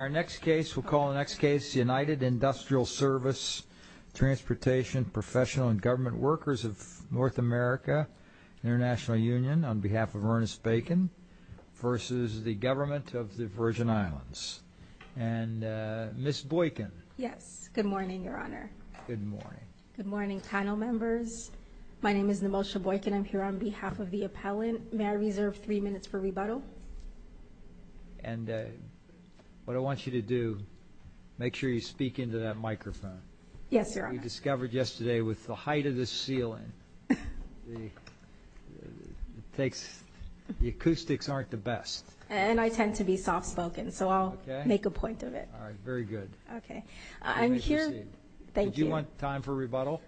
Our next case, we'll call the next case United Industrial Service Transportation Professional and Government Workers of North America International Union on behalf of Ernest Bacon versus the government of the Virgin Islands and Miss Boykin. Yes. Good morning, Your Honor. Good morning. Good morning, panel members. My name is Nemosha Boykin. I'm here on behalf of the appellant. May I reserve three minutes for rebuttal? And what I want you to do, make sure you speak into that microphone. Yes, Your Honor. You discovered yesterday with the height of the ceiling, the acoustics aren't the best. And I tend to be soft spoken, so I'll make a point of it. Okay. All right. Very good. Okay. I'm here. You may proceed. Thank you. Did you want time for rebuttal?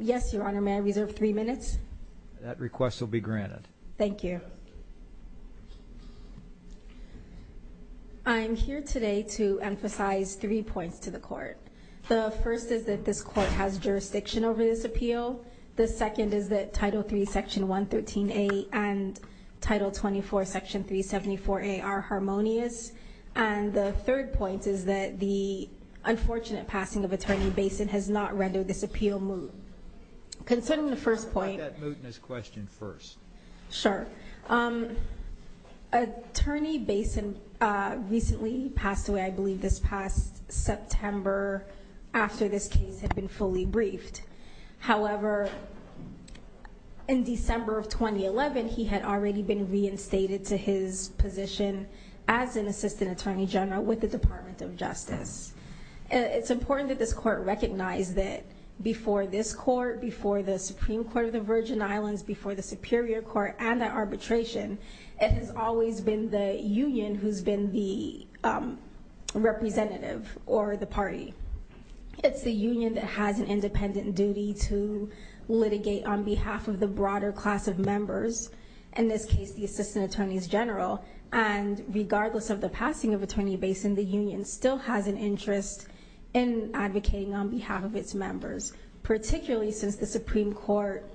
Yes, Your Honor. May I reserve three minutes? That request will be granted. Thank you. Yes, Your Honor. I'm here today to emphasize three points to the court. The first is that this court has jurisdiction over this appeal. The second is that Title III, Section 113A and Title 24, Section 374A are harmonious. And the third point is that the unfortunate passing of Attorney Basin has not rendered this appeal moot. Concerning the first point... Let that mootness question first. Sure. Attorney Basin recently passed away, I believe this past September, after this case had been fully briefed. However, in December of 2011, he had already been reinstated to his position as an Assistant Attorney General with the Department of Justice. It's important that this court recognize that before this court, before the Supreme Court of the Virgin Islands, before the Superior Court and the arbitration, it has always been the union who's been the representative or the party. It's the union that has an independent duty to litigate on behalf of the broader class of members, in this case, the Assistant Attorneys General. And regardless of the passing of Attorney Basin, the union still has an interest in advocating on behalf of its members, particularly since the Supreme Court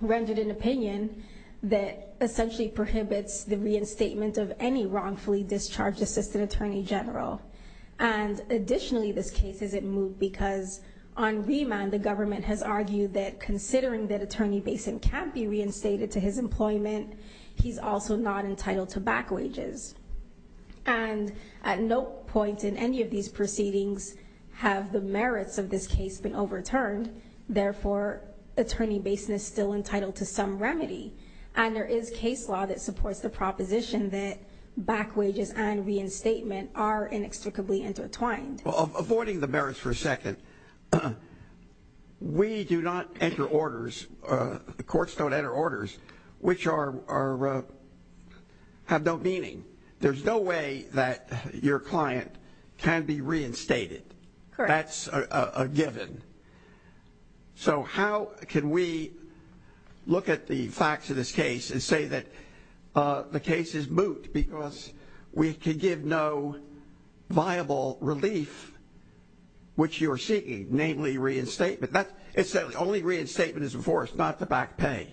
rendered an opinion that essentially prohibits the reinstatement of any wrongfully discharged Assistant Attorney General. And additionally, this case isn't moot because on remand, the government has argued that considering that Attorney Basin can't be reinstated to his employment, he's also not entitled to back wages. And at no point in any of these proceedings have the merits of this case been overturned. Therefore, Attorney Basin is still entitled to some remedy. And there is case law that supports the proposition that back wages and reinstatement are inextricably intertwined. Avoiding the merits for a second, we do not enter orders, the courts don't enter orders, which have no meaning. There's no way that your client can be reinstated. That's a given. So how can we look at the facts of this case and say that the case is moot because we can give no viable relief, which you are seeking, namely reinstatement? It says only reinstatement is before us, not the back pay.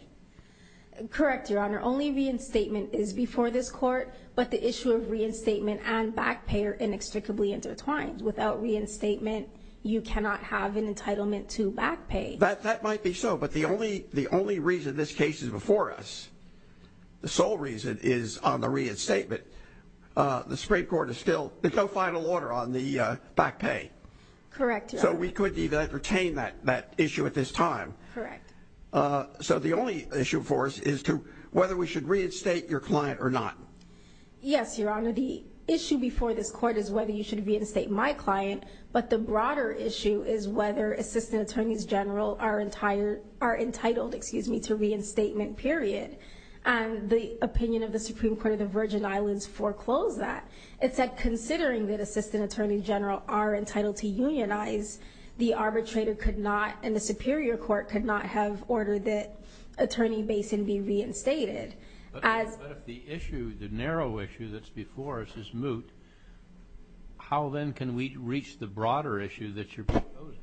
Correct, Your Honor. Only reinstatement is before this court, but the issue of reinstatement and back pay are inextricably intertwined. Without reinstatement, you cannot have an entitlement to back pay. That might be so, but the only reason this case is before us, the sole reason, is on the reinstatement. The Supreme Court is still, there's no final order on the back pay. Correct, Your Honor. So we couldn't even entertain that issue at this time. Correct. So the only issue for us is whether we should reinstate your client or not. Yes, Your Honor, the issue before this court is whether you should reinstate my client, but the broader issue is whether Assistant Attorneys General are entitled to reinstatement, period. The opinion of the Supreme Court of the Virgin Islands foreclosed that. It said considering that Assistant Attorneys General are entitled to unionize, the arbitrator could not, and the Superior Court could not have ordered that Attorney Basin be reinstated. But if the issue, the narrow issue that's before us is moot, how then can we reach the broader issue that you're proposing,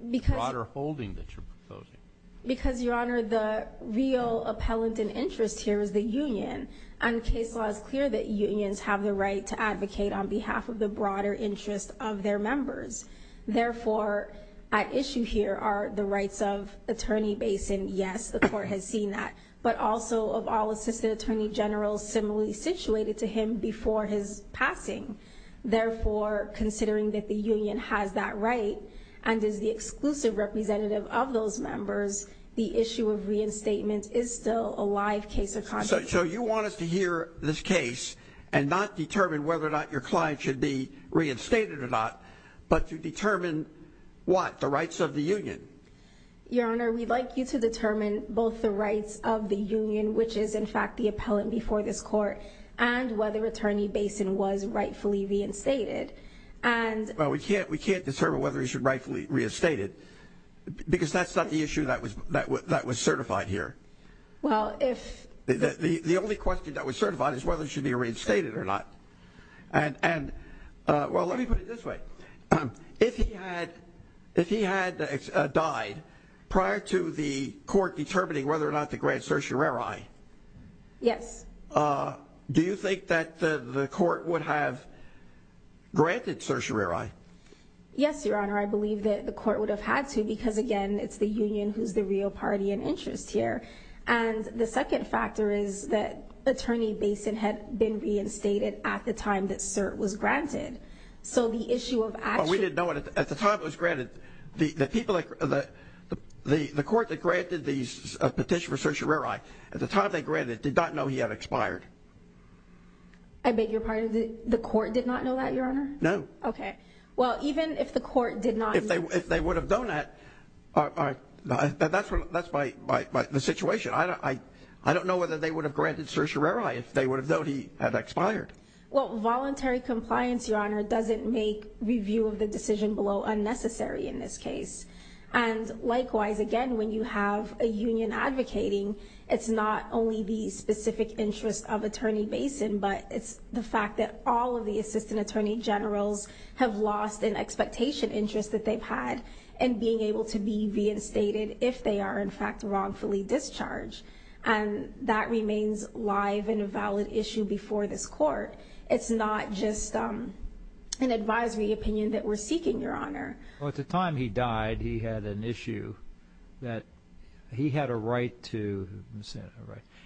the broader holding that you're proposing? Because, Your Honor, the real appellant in interest here is the union, and case law is clear that unions have the right to advocate on behalf of the broader interest of their members. Therefore, at issue here are the rights of Attorney Basin. Yes, the court has seen that, but also of all Assistant Attorney Generals similarly situated to him before his passing. Therefore, considering that the union has that right and is the exclusive representative of those members, the issue of reinstatement is still a live case of contradiction. So you want us to hear this case and not determine whether or not your client should be reinstated or not, but to determine what, the rights of the union? Your Honor, we'd like you to determine both the rights of the union, which is in fact the appellant before this court, and whether Attorney Basin was rightfully reinstated. Well, we can't determine whether he should rightfully be reinstated because that's not the issue that was certified here. The only question that was certified is whether he should be reinstated or not. Well, let me put it this way. If he had died prior to the court determining whether or not to grant certiorari, Yes. do you think that the court would have granted certiorari? Yes, Your Honor, I believe that the court would have had to because, again, it's the union who's the real party in interest here. And the second factor is that Attorney Basin had been reinstated at the time that cert was granted. So the issue of actually Well, we didn't know it at the time it was granted. The court that granted the petition for certiorari, at the time they granted it, did not know he had expired. I beg your pardon? The court did not know that, Your Honor? No. Okay. Well, even if the court did not know If they would have known that, that's the situation. I don't know whether they would have granted certiorari if they would have known he had expired. Well, voluntary compliance, Your Honor, doesn't make review of the decision below unnecessary in this case. And likewise, again, when you have a union advocating, it's not only the specific interest of Attorney Basin, but it's the fact that all of the assistant attorney generals have lost an expectation interest that they've had in being able to be reinstated if they are, in fact, wrongfully discharged. And that remains live and a valid issue before this court. It's not just an advisory opinion that we're seeking, Your Honor. Well, at the time he died, he had an issue that he had a right to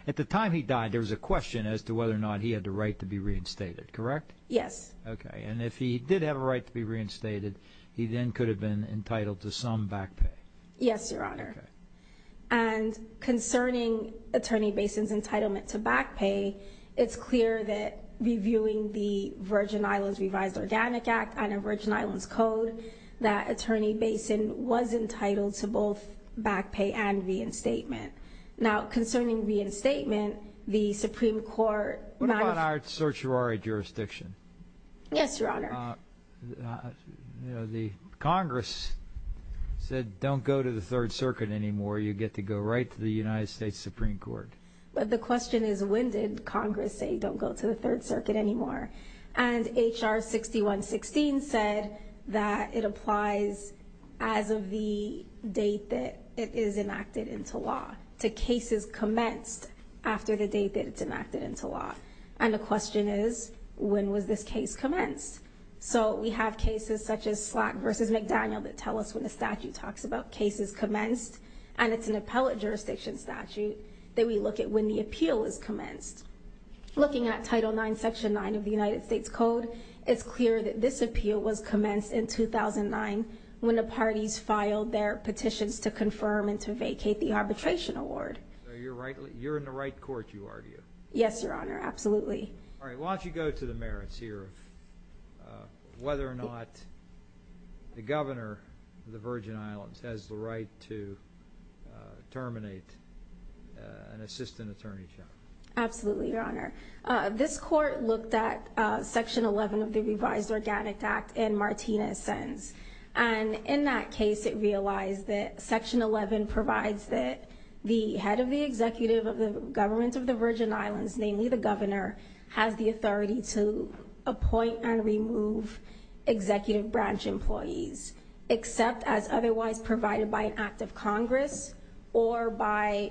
At the time he died, there was a question as to whether or not he had the right to be reinstated, correct? Yes. Okay. And if he did have a right to be reinstated, he then could have been entitled to some back pay. Yes, Your Honor. Okay. And concerning Attorney Basin's entitlement to back pay, it's clear that reviewing the Virgin Islands Revised Organic Act and the Virgin Islands Code, that Attorney Basin was entitled to both back pay and reinstatement. Now, concerning reinstatement, the Supreme Court What about our certiorari jurisdiction? Yes, Your Honor. The Congress said don't go to the Third Circuit anymore. You get to go right to the United States Supreme Court. But the question is when did Congress say don't go to the Third Circuit anymore? And H.R. 6116 said that it applies as of the date that it is enacted into law, to cases commenced after the date that it's enacted into law. And the question is when was this case commenced? So we have cases such as Slack v. McDaniel that tell us when the statute talks about cases commenced, and it's an appellate jurisdiction statute that we look at when the appeal is commenced. Looking at Title IX, Section 9 of the United States Code, it's clear that this appeal was commenced in 2009 when the parties filed their petitions to confirm and to vacate the arbitration award. So you're in the right court, you argue? Yes, Your Honor, absolutely. All right, why don't you go to the merits here of whether or not the governor of the Virgin Islands has the right to terminate an assistant attorney general. Absolutely, Your Honor. This court looked at Section 11 of the Revised Organic Act in Martina's sentence. And in that case, it realized that Section 11 provides that the head of the executive of the government of the Virgin Islands, namely the governor, has the authority to appoint and remove executive branch employees except as otherwise provided by an act of Congress or by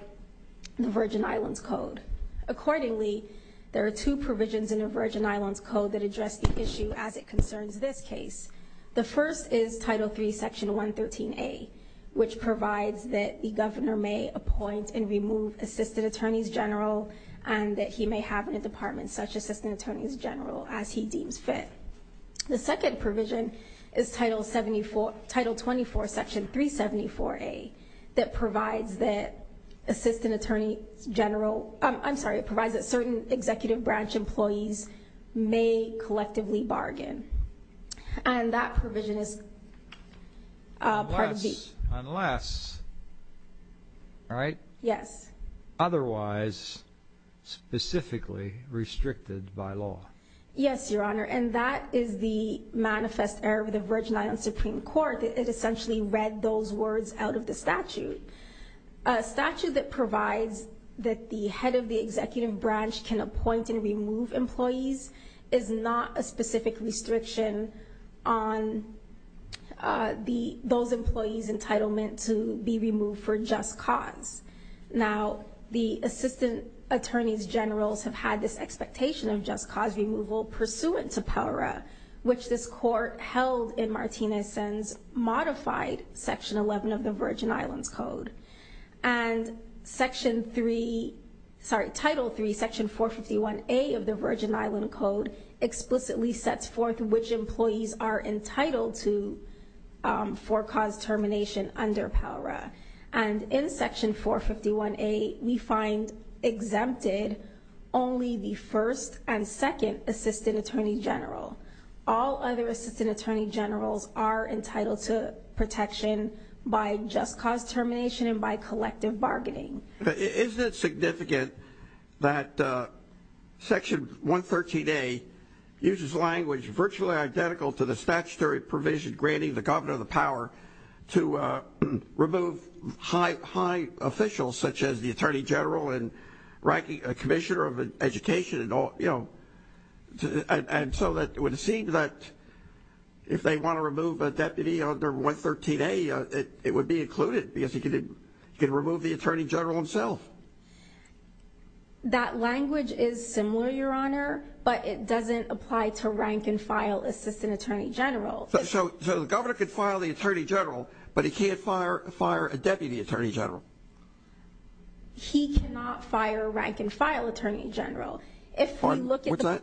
the Virgin Islands Code. Accordingly, there are two provisions in the Virgin Islands Code that address the issue as it concerns this case. The first is Title III, Section 113A, which provides that the governor may appoint and remove assistant attorneys general and that he may have in a department such assistant attorneys general as he deems fit. The second provision is Title 24, Section 374A, that provides that certain executive branch employees may collectively bargain. And that provision is Part B. Unless, right? Yes. Otherwise specifically restricted by law. Yes, Your Honor. And that is the manifest error of the Virgin Islands Supreme Court. It essentially read those words out of the statute. A statute that provides that the head of the executive branch can appoint and remove employees is not a specific restriction on those employees' entitlement to be removed for just cause. Now, the assistant attorneys generals have had this expectation of just cause removal pursuant to PELRA, which this court held in Martinez's modified Section 11 of the Virgin Islands Code. And Section 3, sorry, Title III, Section 451A of the Virgin Islands Code explicitly sets forth which employees are entitled to for cause termination under PELRA. And in Section 451A, we find exempted only the first and second assistant attorney general. All other assistant attorney generals are entitled to protection by just cause termination and by collective bargaining. Isn't it significant that Section 113A uses language virtually identical to the statutory provision granting the governor the power to remove high officials such as the attorney general and ranking commissioner of education and all, you know, and so that it would seem that if they want to remove a deputy under 113A, it would be included because he could remove the attorney general himself. That language is similar, Your Honor, but it doesn't apply to rank and file assistant attorney generals. So the governor could file the attorney general, but he can't fire a deputy attorney general? He cannot fire a rank and file attorney general. If we look at the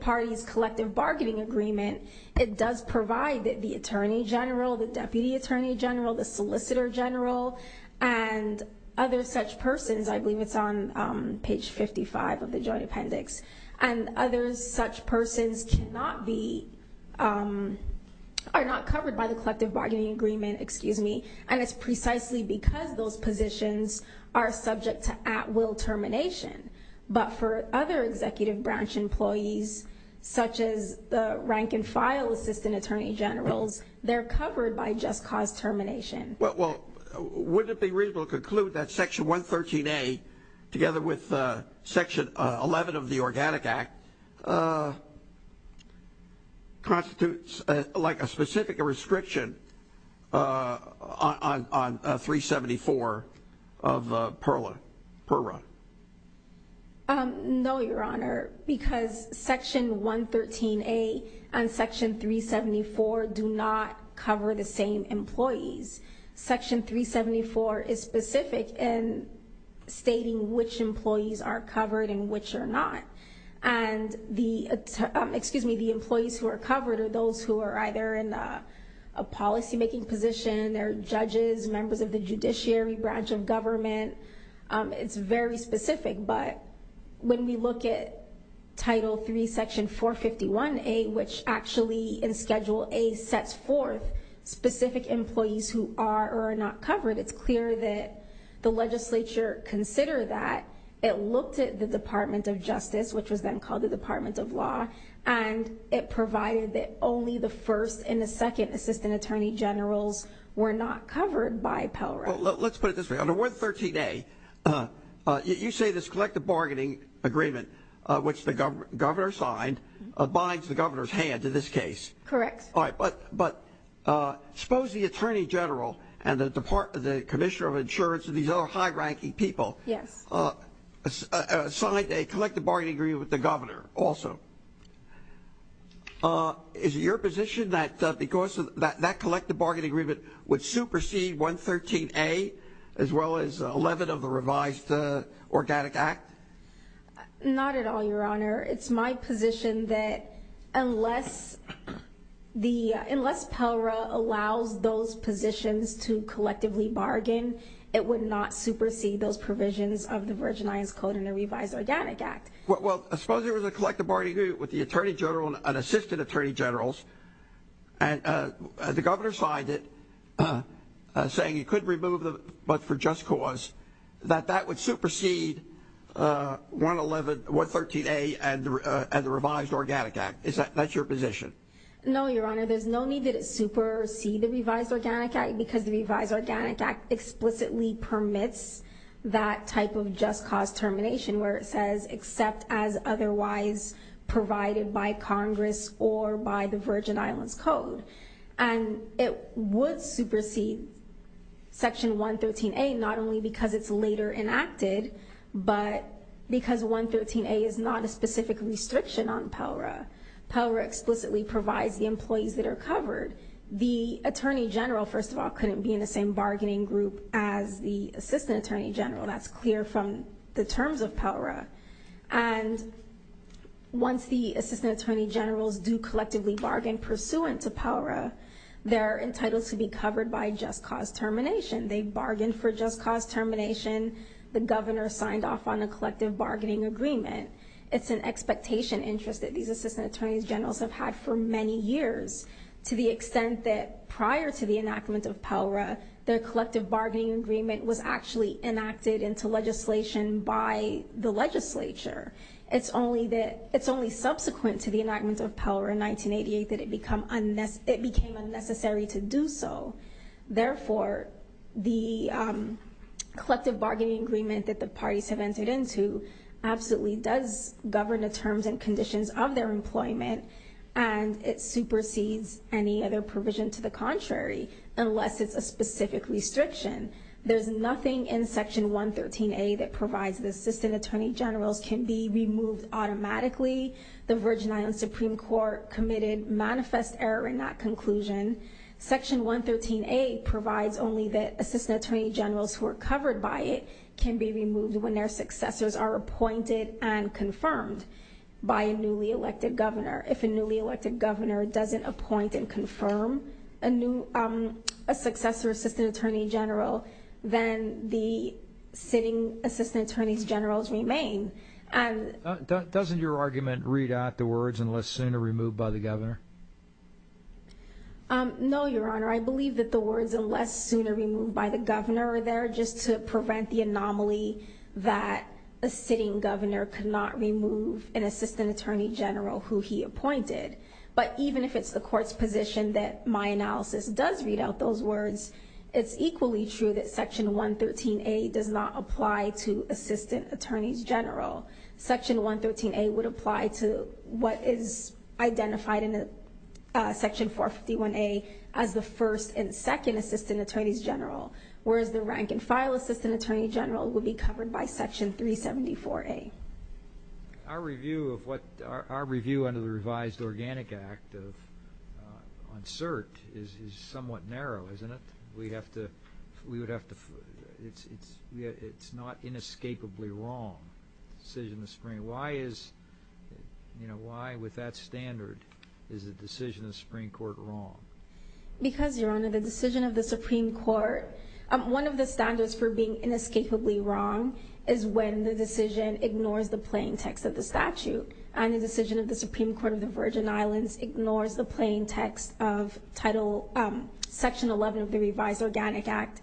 party's collective bargaining agreement, it does provide that the attorney general, the deputy attorney general, the solicitor general, and other such persons, I believe it's on page 55 of the Joint Appendix, and other such persons are not covered by the collective bargaining agreement, and it's precisely because those positions are subject to at-will termination. But for other executive branch employees, such as the rank and file assistant attorney generals, they're covered by just cause termination. Well, wouldn't it be reasonable to conclude that Section 113A, together with Section 11 of the Organic Act, constitutes like a specific restriction on 374 per run? No, Your Honor, because Section 113A and Section 374 do not cover the same employees. Section 374 is specific in stating which employees are covered and which are not. And the employees who are covered are those who are either in a policymaking position, they're judges, members of the judiciary branch of government. It's very specific, but when we look at Title III, Section 451A, which actually in Schedule A sets forth specific employees who are or are not covered, it's clear that the legislature considered that, it looked at the Department of Justice, which was then called the Department of Law, and it provided that only the first and the second assistant attorney generals were not covered by Pell Rights. Let's put it this way. Under 113A, you say this collective bargaining agreement, which the governor signed, binds the governor's hand in this case. Correct. But suppose the attorney general and the Commissioner of Insurance and these other high-ranking people signed a collective bargaining agreement with the governor also. Is it your position that because of that collective bargaining agreement would supersede 113A as well as 11 of the revised Organic Act? Not at all, Your Honor. It's my position that unless Pell Right allows those positions to collectively bargain, it would not supersede those provisions of the Virgin Islands Code and the revised Organic Act. Well, suppose there was a collective bargaining agreement with the attorney general and assistant attorney generals, and the governor signed it saying he couldn't remove them but for just cause, that that would supersede 113A and the revised Organic Act. Is that your position? No, Your Honor. There's no need that it supersede the revised Organic Act because the revised Organic Act explicitly permits that type of just cause termination where it says except as otherwise provided by Congress or by the Virgin Islands Code. And it would supersede Section 113A not only because it's later enacted but because 113A is not a specific restriction on Pell Right. Pell Right explicitly provides the employees that are covered. The attorney general, first of all, couldn't be in the same bargaining group as the assistant attorney general. That's clear from the terms of Pell Right. And once the assistant attorney generals do collectively bargain pursuant to Pell Right, they're entitled to be covered by just cause termination. They bargained for just cause termination. The governor signed off on a collective bargaining agreement. It's an expectation interest that these assistant attorney generals have had for many years to the extent that prior to the enactment of Pell Right, their collective bargaining agreement was actually enacted into legislation by the legislature. It's only subsequent to the enactment of Pell Right in 1988 that it became unnecessary to do so. Therefore, the collective bargaining agreement that the parties have entered into absolutely does govern the terms and conditions of their employment and it supersedes any other provision to the contrary unless it's a specific restriction. There's nothing in Section 113A that provides the assistant attorney generals can be removed automatically. The Virgin Islands Supreme Court committed manifest error in that conclusion. Section 113A provides only that assistant attorney generals who are covered by it can be removed when their successors are appointed and confirmed by a newly elected governor. If a newly elected governor doesn't appoint and confirm a successor assistant attorney general, then the sitting assistant attorney generals remain. Doesn't your argument read out the words, unless sooner, removed by the governor? No, Your Honor. I believe that the words, unless sooner, removed by the governor are there just to prevent the anomaly that a sitting governor cannot remove an assistant attorney general who he appointed. But even if it's the court's position that my analysis does read out those words, it's equally true that Section 113A does not apply to assistant attorneys general. Section 113A would apply to what is identified in Section 451A as the first and second assistant attorneys general, whereas the rank and file assistant attorney general would be covered by Section 374A. Our review under the revised Organic Act on cert is somewhat narrow, isn't it? It's not inescapably wrong, the decision of the Supreme Court. Why, with that standard, is the decision of the Supreme Court wrong? Because, Your Honor, the decision of the Supreme Court, one of the standards for being inescapably wrong is when the decision ignores the plain text of the statute, and the decision of the Supreme Court of the Virgin Islands ignores the plain text of Section 11 of the revised Organic Act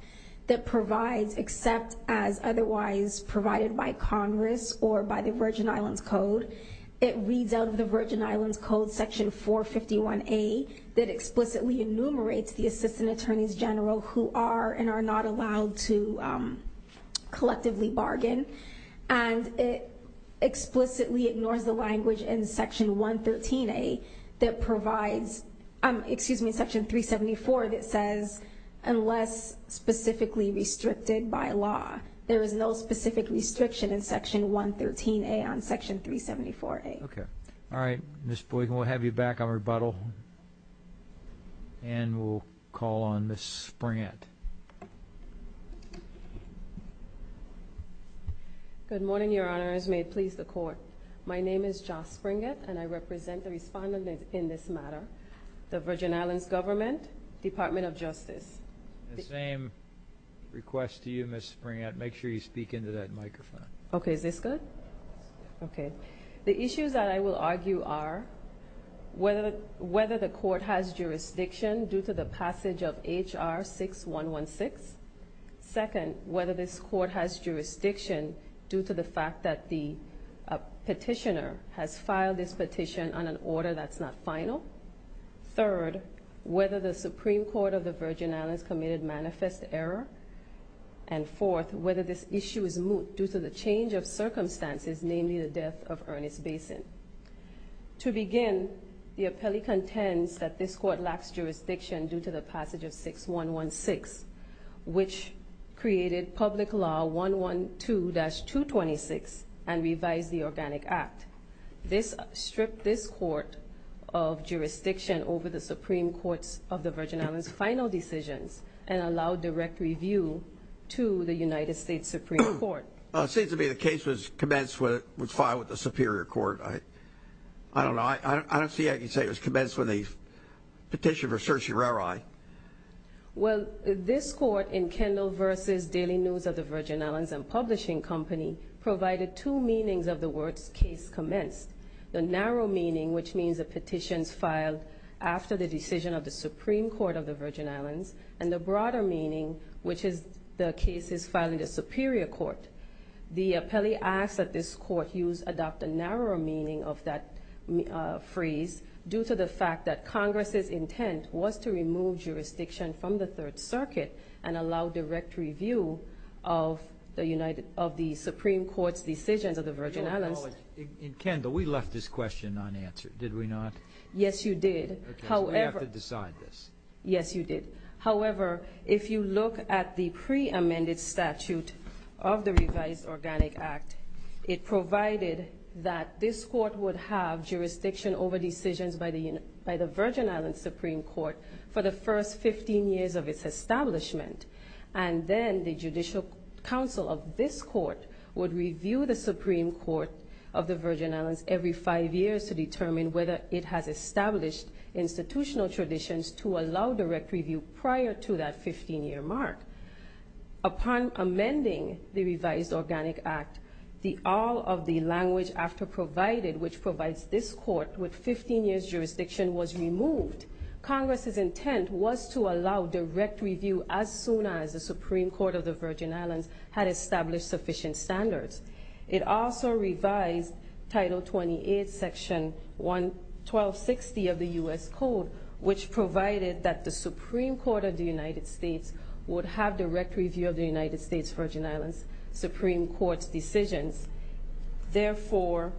that provides except as otherwise provided by Congress or by the Virgin Islands Code. It reads out of the Virgin Islands Code, Section 451A, that explicitly enumerates the assistant attorneys general who are and are not allowed to collectively bargain. And it explicitly ignores the language in Section 113A that provides, excuse me, Section 374, unless specifically restricted by law. There is no specific restriction in Section 113A on Section 374A. Okay. All right. Ms. Boykin, we'll have you back on rebuttal. And we'll call on Ms. Springett. Good morning, Your Honors. May it please the Court. My name is Joss Springett, and I represent the respondent in this matter, the Virgin Islands Government, Department of Justice. The same request to you, Ms. Springett. Make sure you speak into that microphone. Okay. Is this good? Yes. Okay. The issues that I will argue are whether the Court has jurisdiction due to the passage of H.R. 6116. Second, whether this Court has jurisdiction due to the fact that the petitioner has filed this petition on an order that's not final. Third, whether the Supreme Court of the Virgin Islands committed manifest error. And fourth, whether this issue is moot due to the change of circumstances, namely the death of Ernest Basin. To begin, the appellee contends that this Court lacks jurisdiction due to the passage of H.R. 6116, which created Public Law 112-226 and revised the Organic Act. This stripped this Court of jurisdiction over the Supreme Court's of the Virgin Islands' final decisions and allowed direct review to the United States Supreme Court. It seems to me the case was commenced when it was filed with the Superior Court. I don't know. I don't see how you can say it was commenced when they petitioned for certiorari. Well, this Court in Kendall v. Daily News of the Virgin Islands and Publishing Company provided two meanings of the words case commenced. The narrow meaning, which means the petitions filed after the decision of the Supreme Court of the Virgin Islands, and the broader meaning, which is the cases filed in the Superior Court. The appellee asks that this Court adopt a narrower meaning of that phrase due to the fact that Congress's intent was to remove jurisdiction from the Third Circuit and allow direct review of the Supreme Court's decisions of the Virgin Islands. In Kendall, we left this question unanswered, did we not? Yes, you did. Okay, so we have to decide this. Yes, you did. However, if you look at the pre-amended statute of the Revised Organic Act, it provided that this Court would have jurisdiction over decisions by the Virgin Islands Supreme Court for the first 15 years of its establishment, and then the Judicial Council of this Court would review the Supreme Court of the Virgin Islands every five years to determine whether it has established institutional traditions to allow direct review prior to that 15-year mark. Upon amending the Revised Organic Act, all of the language after provided, which provides this Court with 15 years' jurisdiction, was removed. Congress's intent was to allow direct review as soon as the Supreme Court of the Virgin Islands had established sufficient standards. It also revised Title 28, Section 1260 of the U.S. Code, which provided that the Supreme Court of the United States would have direct review of the United States Virgin Islands Supreme Court's decisions. Therefore,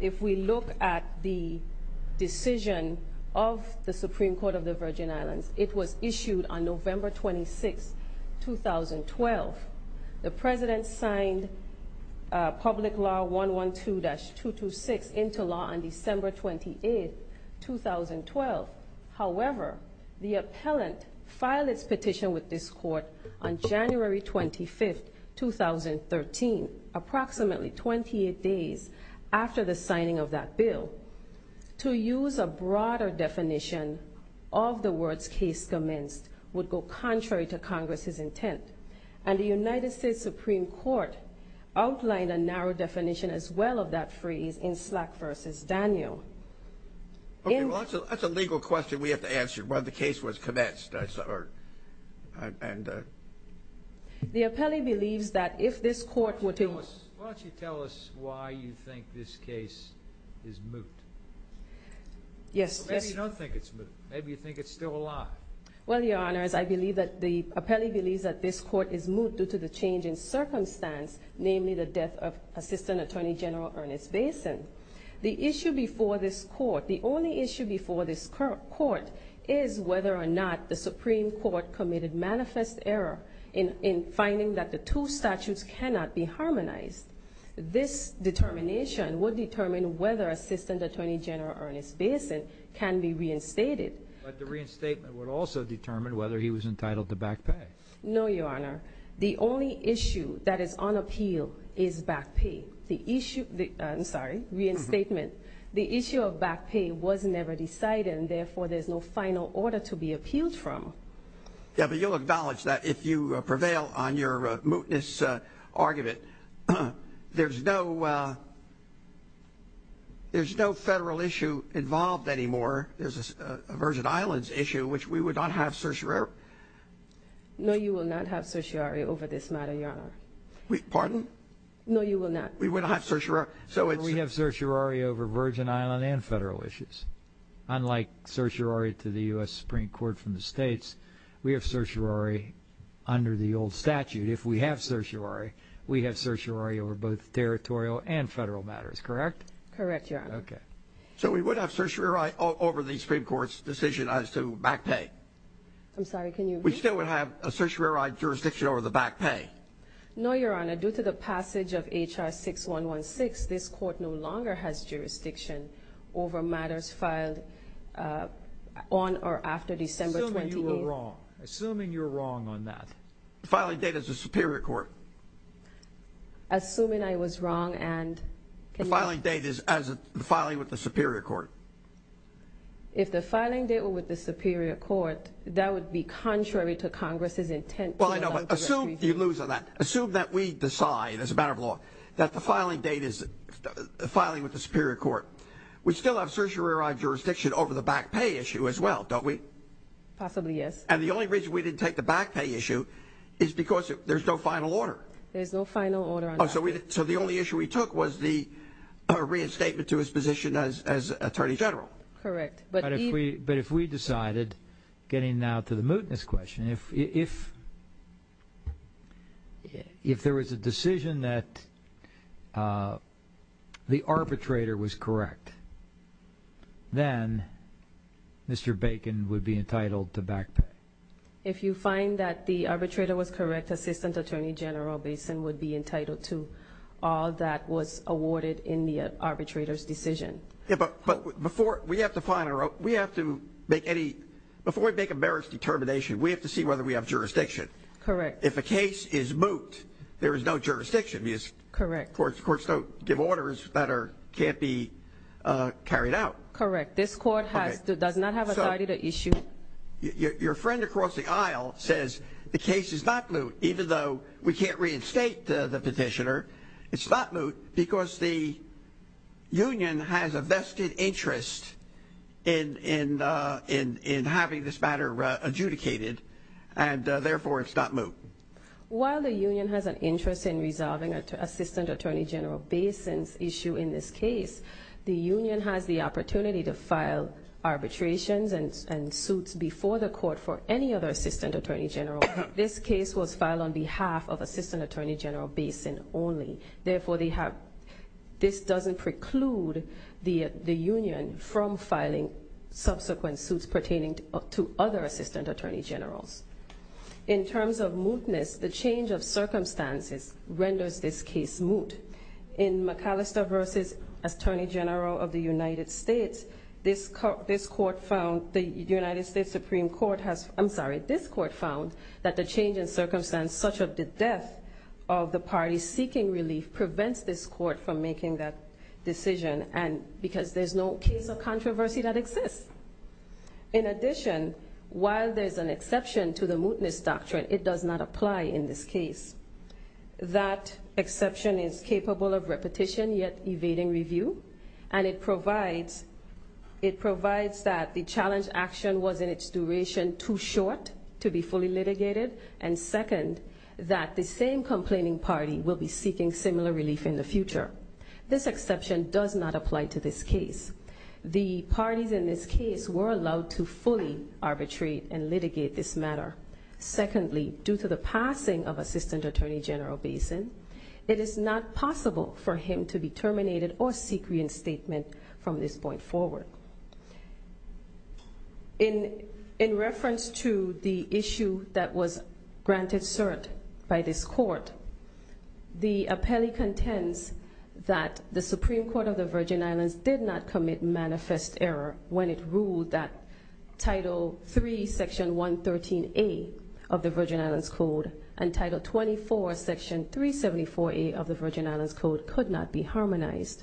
if we look at the decision of the Supreme Court of the Virgin Islands, it was issued on November 26, 2012. The President signed Public Law 112-226 into law on December 28, 2012. However, the appellant filed its petition with this Court on January 25, 2013, approximately 28 days after the signing of that bill. To use a broader definition of the words case commenced would go contrary to Congress's intent. And the United States Supreme Court outlined a narrow definition as well of that phrase in Slack v. Daniel. Okay, well, that's a legal question we have to answer. Well, the case was commenced. The appellee believes that if this Court were to Why don't you tell us why you think this case is moot? Yes. Maybe you don't think it's moot. Maybe you think it's still alive. Well, Your Honors, I believe that the appellee believes that this Court is moot due to the change in circumstance, namely the death of Assistant Attorney General Ernest Basin. The issue before this Court, the only issue before this Court, is whether or not the Supreme Court committed manifest error in finding that the two statutes cannot be harmonized. This determination would determine whether Assistant Attorney General Ernest Basin can be reinstated. But the reinstatement would also determine whether he was entitled to back pay. No, Your Honor. The only issue that is on appeal is back pay. I'm sorry, reinstatement. The issue of back pay was never decided, and, therefore, there's no final order to be appealed from. Yeah, but you'll acknowledge that if you prevail on your mootness argument, there's no federal issue involved anymore. There's a Virgin Islands issue, which we would not have certiorari. No, you will not have certiorari over this matter, Your Honor. Pardon? No, you will not. We would not have certiorari. We have certiorari over Virgin Islands and federal issues. Unlike certiorari to the U.S. Supreme Court from the states, we have certiorari under the old statute. If we have certiorari, we have certiorari over both territorial and federal matters, correct? Correct, Your Honor. Okay. So we would have certiorari over the Supreme Court's decision as to back pay? I'm sorry, can you repeat that? We still would have a certiorari jurisdiction over the back pay? No, Your Honor. Due to the passage of H.R. 6116, this Court no longer has jurisdiction over matters filed on or after December 28th. Assuming you were wrong. Assuming you were wrong on that. Assuming I was wrong and can you repeat that? If the filing date is as of the filing with the Superior Court. If the filing date were with the Superior Court, that would be contrary to Congress's intent. Well, I know, but assume you lose on that. Assume that we decide, as a matter of law, that the filing date is filing with the Superior Court. We still have certiorari jurisdiction over the back pay issue as well, don't we? Possibly, yes. And the only reason we didn't take the back pay issue is because there's no final order. There's no final order on that. So the only issue we took was the reinstatement to his position as Attorney General. Correct. But if we decided, getting now to the mootness question, if there was a decision that the arbitrator was correct, then Mr. Bacon would be entitled to back pay. If you find that the arbitrator was correct, Assistant Attorney General Bacon would be entitled to all that was awarded in the arbitrator's decision. But before we have to make a merits determination, we have to see whether we have jurisdiction. Correct. If a case is moot, there is no jurisdiction because courts don't give orders that can't be carried out. Correct. This court does not have authority to issue. Your friend across the aisle says the case is not moot even though we can't reinstate the petitioner. It's not moot because the union has a vested interest in having this matter adjudicated, and therefore it's not moot. While the union has an interest in resolving Assistant Attorney General Bacon's issue in this case, the union has the opportunity to file arbitrations and suits before the court for any other Assistant Attorney General. This case was filed on behalf of Assistant Attorney General Bacon only. Therefore, this doesn't preclude the union from filing subsequent suits pertaining to other Assistant Attorney Generals. In terms of mootness, the change of circumstances renders this case moot. In McAllister v. Attorney General of the United States, this court found that the change in circumstances, such as the death of the party seeking relief, prevents this court from making that decision because there's no case of controversy that exists. In addition, while there's an exception to the mootness doctrine, it does not apply in this case. That exception is capable of repetition yet evading review, and it provides that the challenge action was in its duration too short to be fully litigated, and second, that the same complaining party will be seeking similar relief in the future. This exception does not apply to this case. The parties in this case were allowed to fully arbitrate and litigate this matter. Secondly, due to the passing of Assistant Attorney General Bacon, it is not possible for him to be terminated or seek reinstatement from this point forward. In reference to the issue that was granted cert by this court, the appellee contends that the Supreme Court of the Virgin Islands did not commit manifest error when it ruled that Title 3, Section 113A of the Virgin Islands Code and Title 24, Section 374A of the Virgin Islands Code could not be harmonized.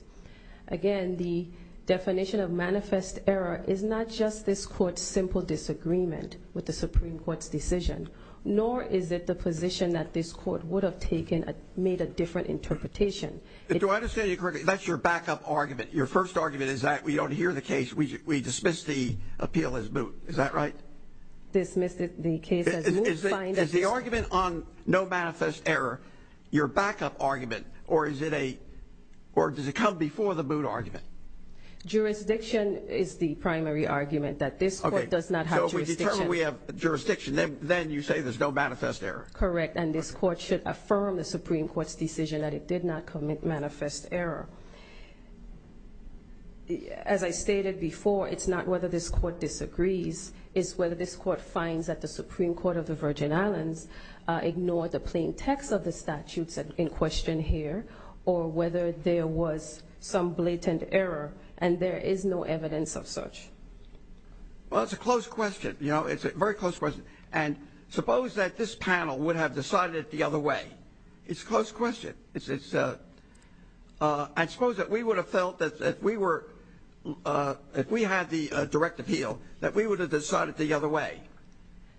Again, the definition of manifest error is not just this court's simple disagreement with the Supreme Court's decision, nor is it the position that this court would have taken and made a different interpretation. Do I understand you correctly? That's your backup argument. Your first argument is that we don't hear the case. We dismiss the appeal as moot. Is that right? Dismiss the case as moot. Is the argument on no manifest error your backup argument, or does it come before the moot argument? Jurisdiction is the primary argument, that this court does not have jurisdiction. Okay, so we determine we have jurisdiction. Then you say there's no manifest error. Correct, and this court should affirm the Supreme Court's decision that it did not commit manifest error. As I stated before, it's not whether this court disagrees, it's whether this court finds that the Supreme Court of the Virgin Islands ignored the plain text of the statutes in question here, or whether there was some blatant error and there is no evidence of such. Well, it's a close question. You know, it's a very close question. And suppose that this panel would have decided it the other way. It's a close question. I suppose that we would have felt that if we had the direct appeal, that we would have decided it the other way.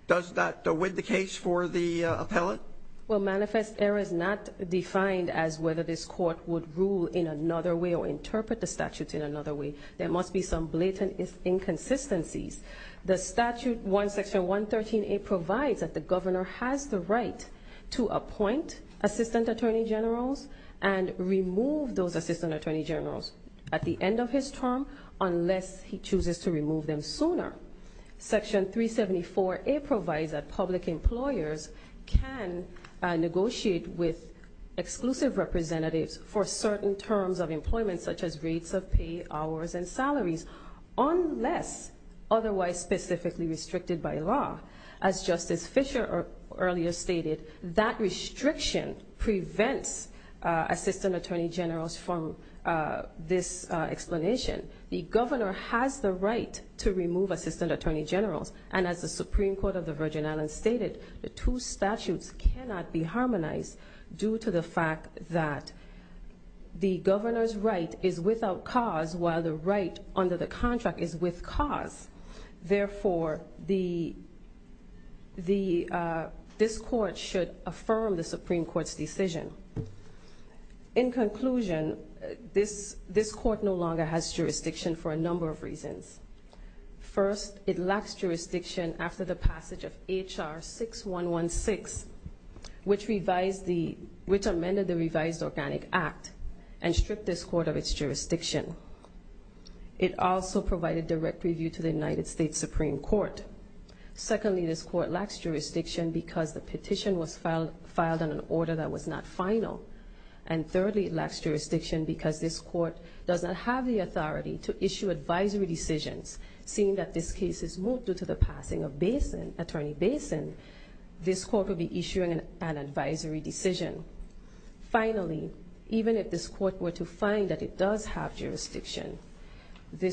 Does that win the case for the appellant? Well, manifest error is not defined as whether this court would rule in another way or interpret the statutes in another way. There must be some blatant inconsistencies. The statute, Section 113A, provides that the governor has the right to appoint assistant attorney generals and remove those assistant attorney generals at the end of his term unless he chooses to remove them sooner. Section 374A provides that public employers can negotiate with exclusive representatives for certain terms of employment, such as rates of pay, hours, and salaries, unless otherwise specifically restricted by law. As Justice Fischer earlier stated, that restriction prevents assistant attorney generals from this explanation. The governor has the right to remove assistant attorney generals. And as the Supreme Court of the Virgin Islands stated, the two statutes cannot be harmonized due to the fact that the governor's right is without cause while the right under the contract is with cause. Therefore, this court should affirm the Supreme Court's decision. In conclusion, this court no longer has jurisdiction for a number of reasons. First, it lacks jurisdiction after the passage of H.R. 6116, which amended the Revised Organic Act and stripped this court of its jurisdiction. It also provided direct review to the United States Supreme Court. Secondly, this court lacks jurisdiction because the petition was filed in an order that was not final. And thirdly, it lacks jurisdiction because this court does not have the authority to issue advisory decisions. Seeing that this case is moved due to the passing of Attorney Basin, this court will be issuing an advisory decision. Finally, even if this court were to find that it does have jurisdiction, the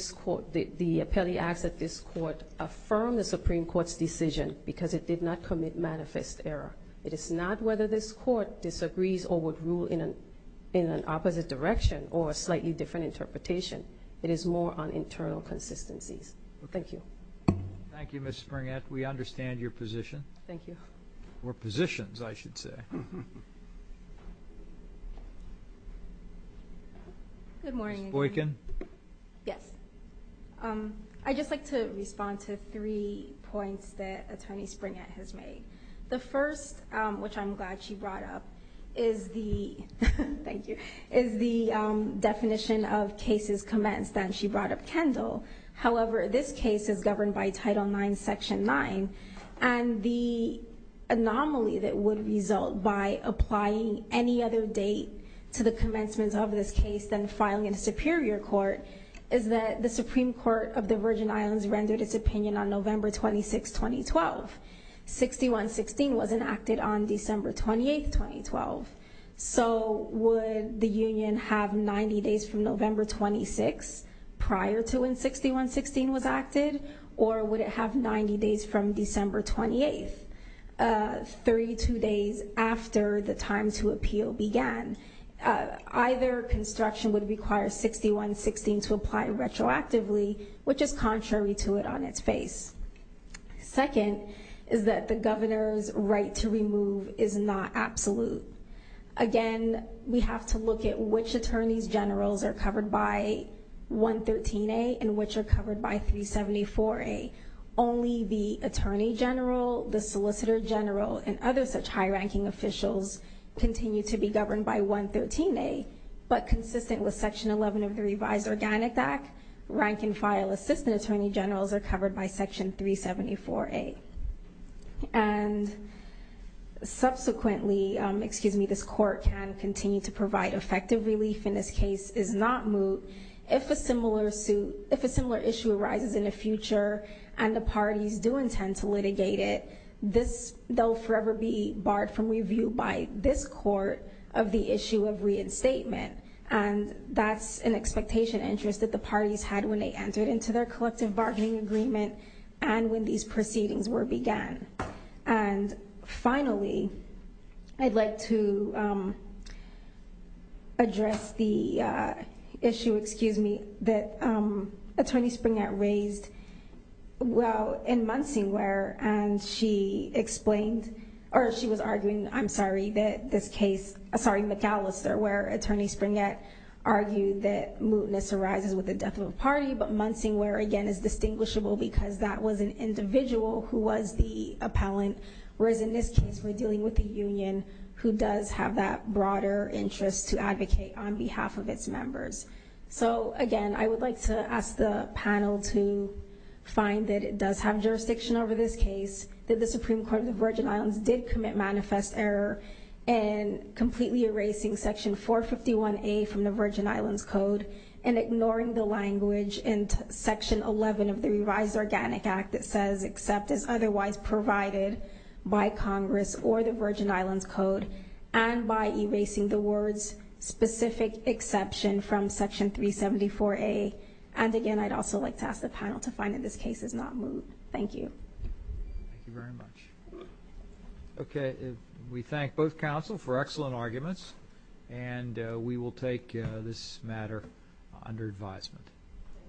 appellee acts at this court affirm the Supreme Court's decision because it did not commit manifest error. It is not whether this court disagrees or would rule in an opposite direction or a slightly different interpretation. It is more on internal consistencies. Thank you. Thank you, Ms. Springett. We understand your position. Thank you. Or positions, I should say. Ms. Boykin? Yes. I'd just like to respond to three points that Attorney Springett has made. The first, which I'm glad she brought up, is the definition of cases commenced, and she brought up Kendall. However, this case is governed by Title IX, Section 9, and the anomaly that would result by applying any other date to the commencement of this case than filing in a superior court is that the Supreme Court of the Virgin Islands rendered its opinion on November 26, 2012. 6116 was enacted on December 28, 2012. So would the union have 90 days from November 26 prior to when 6116 was acted, or would it have 90 days from December 28, 32 days after the time to appeal began? Either construction would require 6116 to apply retroactively, which is contrary to it on its face. Second is that the governor's right to remove is not absolute. Again, we have to look at which attorneys generals are covered by 113A and which are covered by 374A. Only the attorney general, the solicitor general, and other such high-ranking officials continue to be governed by 113A, but consistent with Section 11 of the Revised Organic Act, rank-and-file assistant attorney generals are covered by Section 374A. And subsequently, this Court can continue to provide effective relief in this case is not moot. If a similar issue arises in the future and the parties do intend to litigate it, they'll forever be barred from review by this Court of the issue of reinstatement. And that's an expectation interest that the parties had when they entered into their collective bargaining agreement and when these proceedings were began. And finally, I'd like to address the issue, excuse me, that Attorney Springett raised while in Muncie, and she explained, or she was arguing, I'm sorry, that this case, sorry, McAllister, where Attorney Springett argued that mootness arises with the death of a party, but Muncie where, again, is distinguishable because that was an individual who was the appellant, whereas in this case we're dealing with a union who does have that broader interest to advocate on behalf of its members. So, again, I would like to ask the panel to find that it does have jurisdiction over this case, that the Supreme Court of the Virgin Islands did commit manifest error in completely erasing Section 451A from the Virgin Islands Code and ignoring the language in Section 11 of the Revised Organic Act that says, except as otherwise provided by Congress or the Virgin Islands Code, and by erasing the words specific exception from Section 374A. And, again, I'd also like to ask the panel to find that this case is not moot. Thank you. Thank you very much. Okay, we thank both counsel for excellent arguments, and we will take this matter under advisement.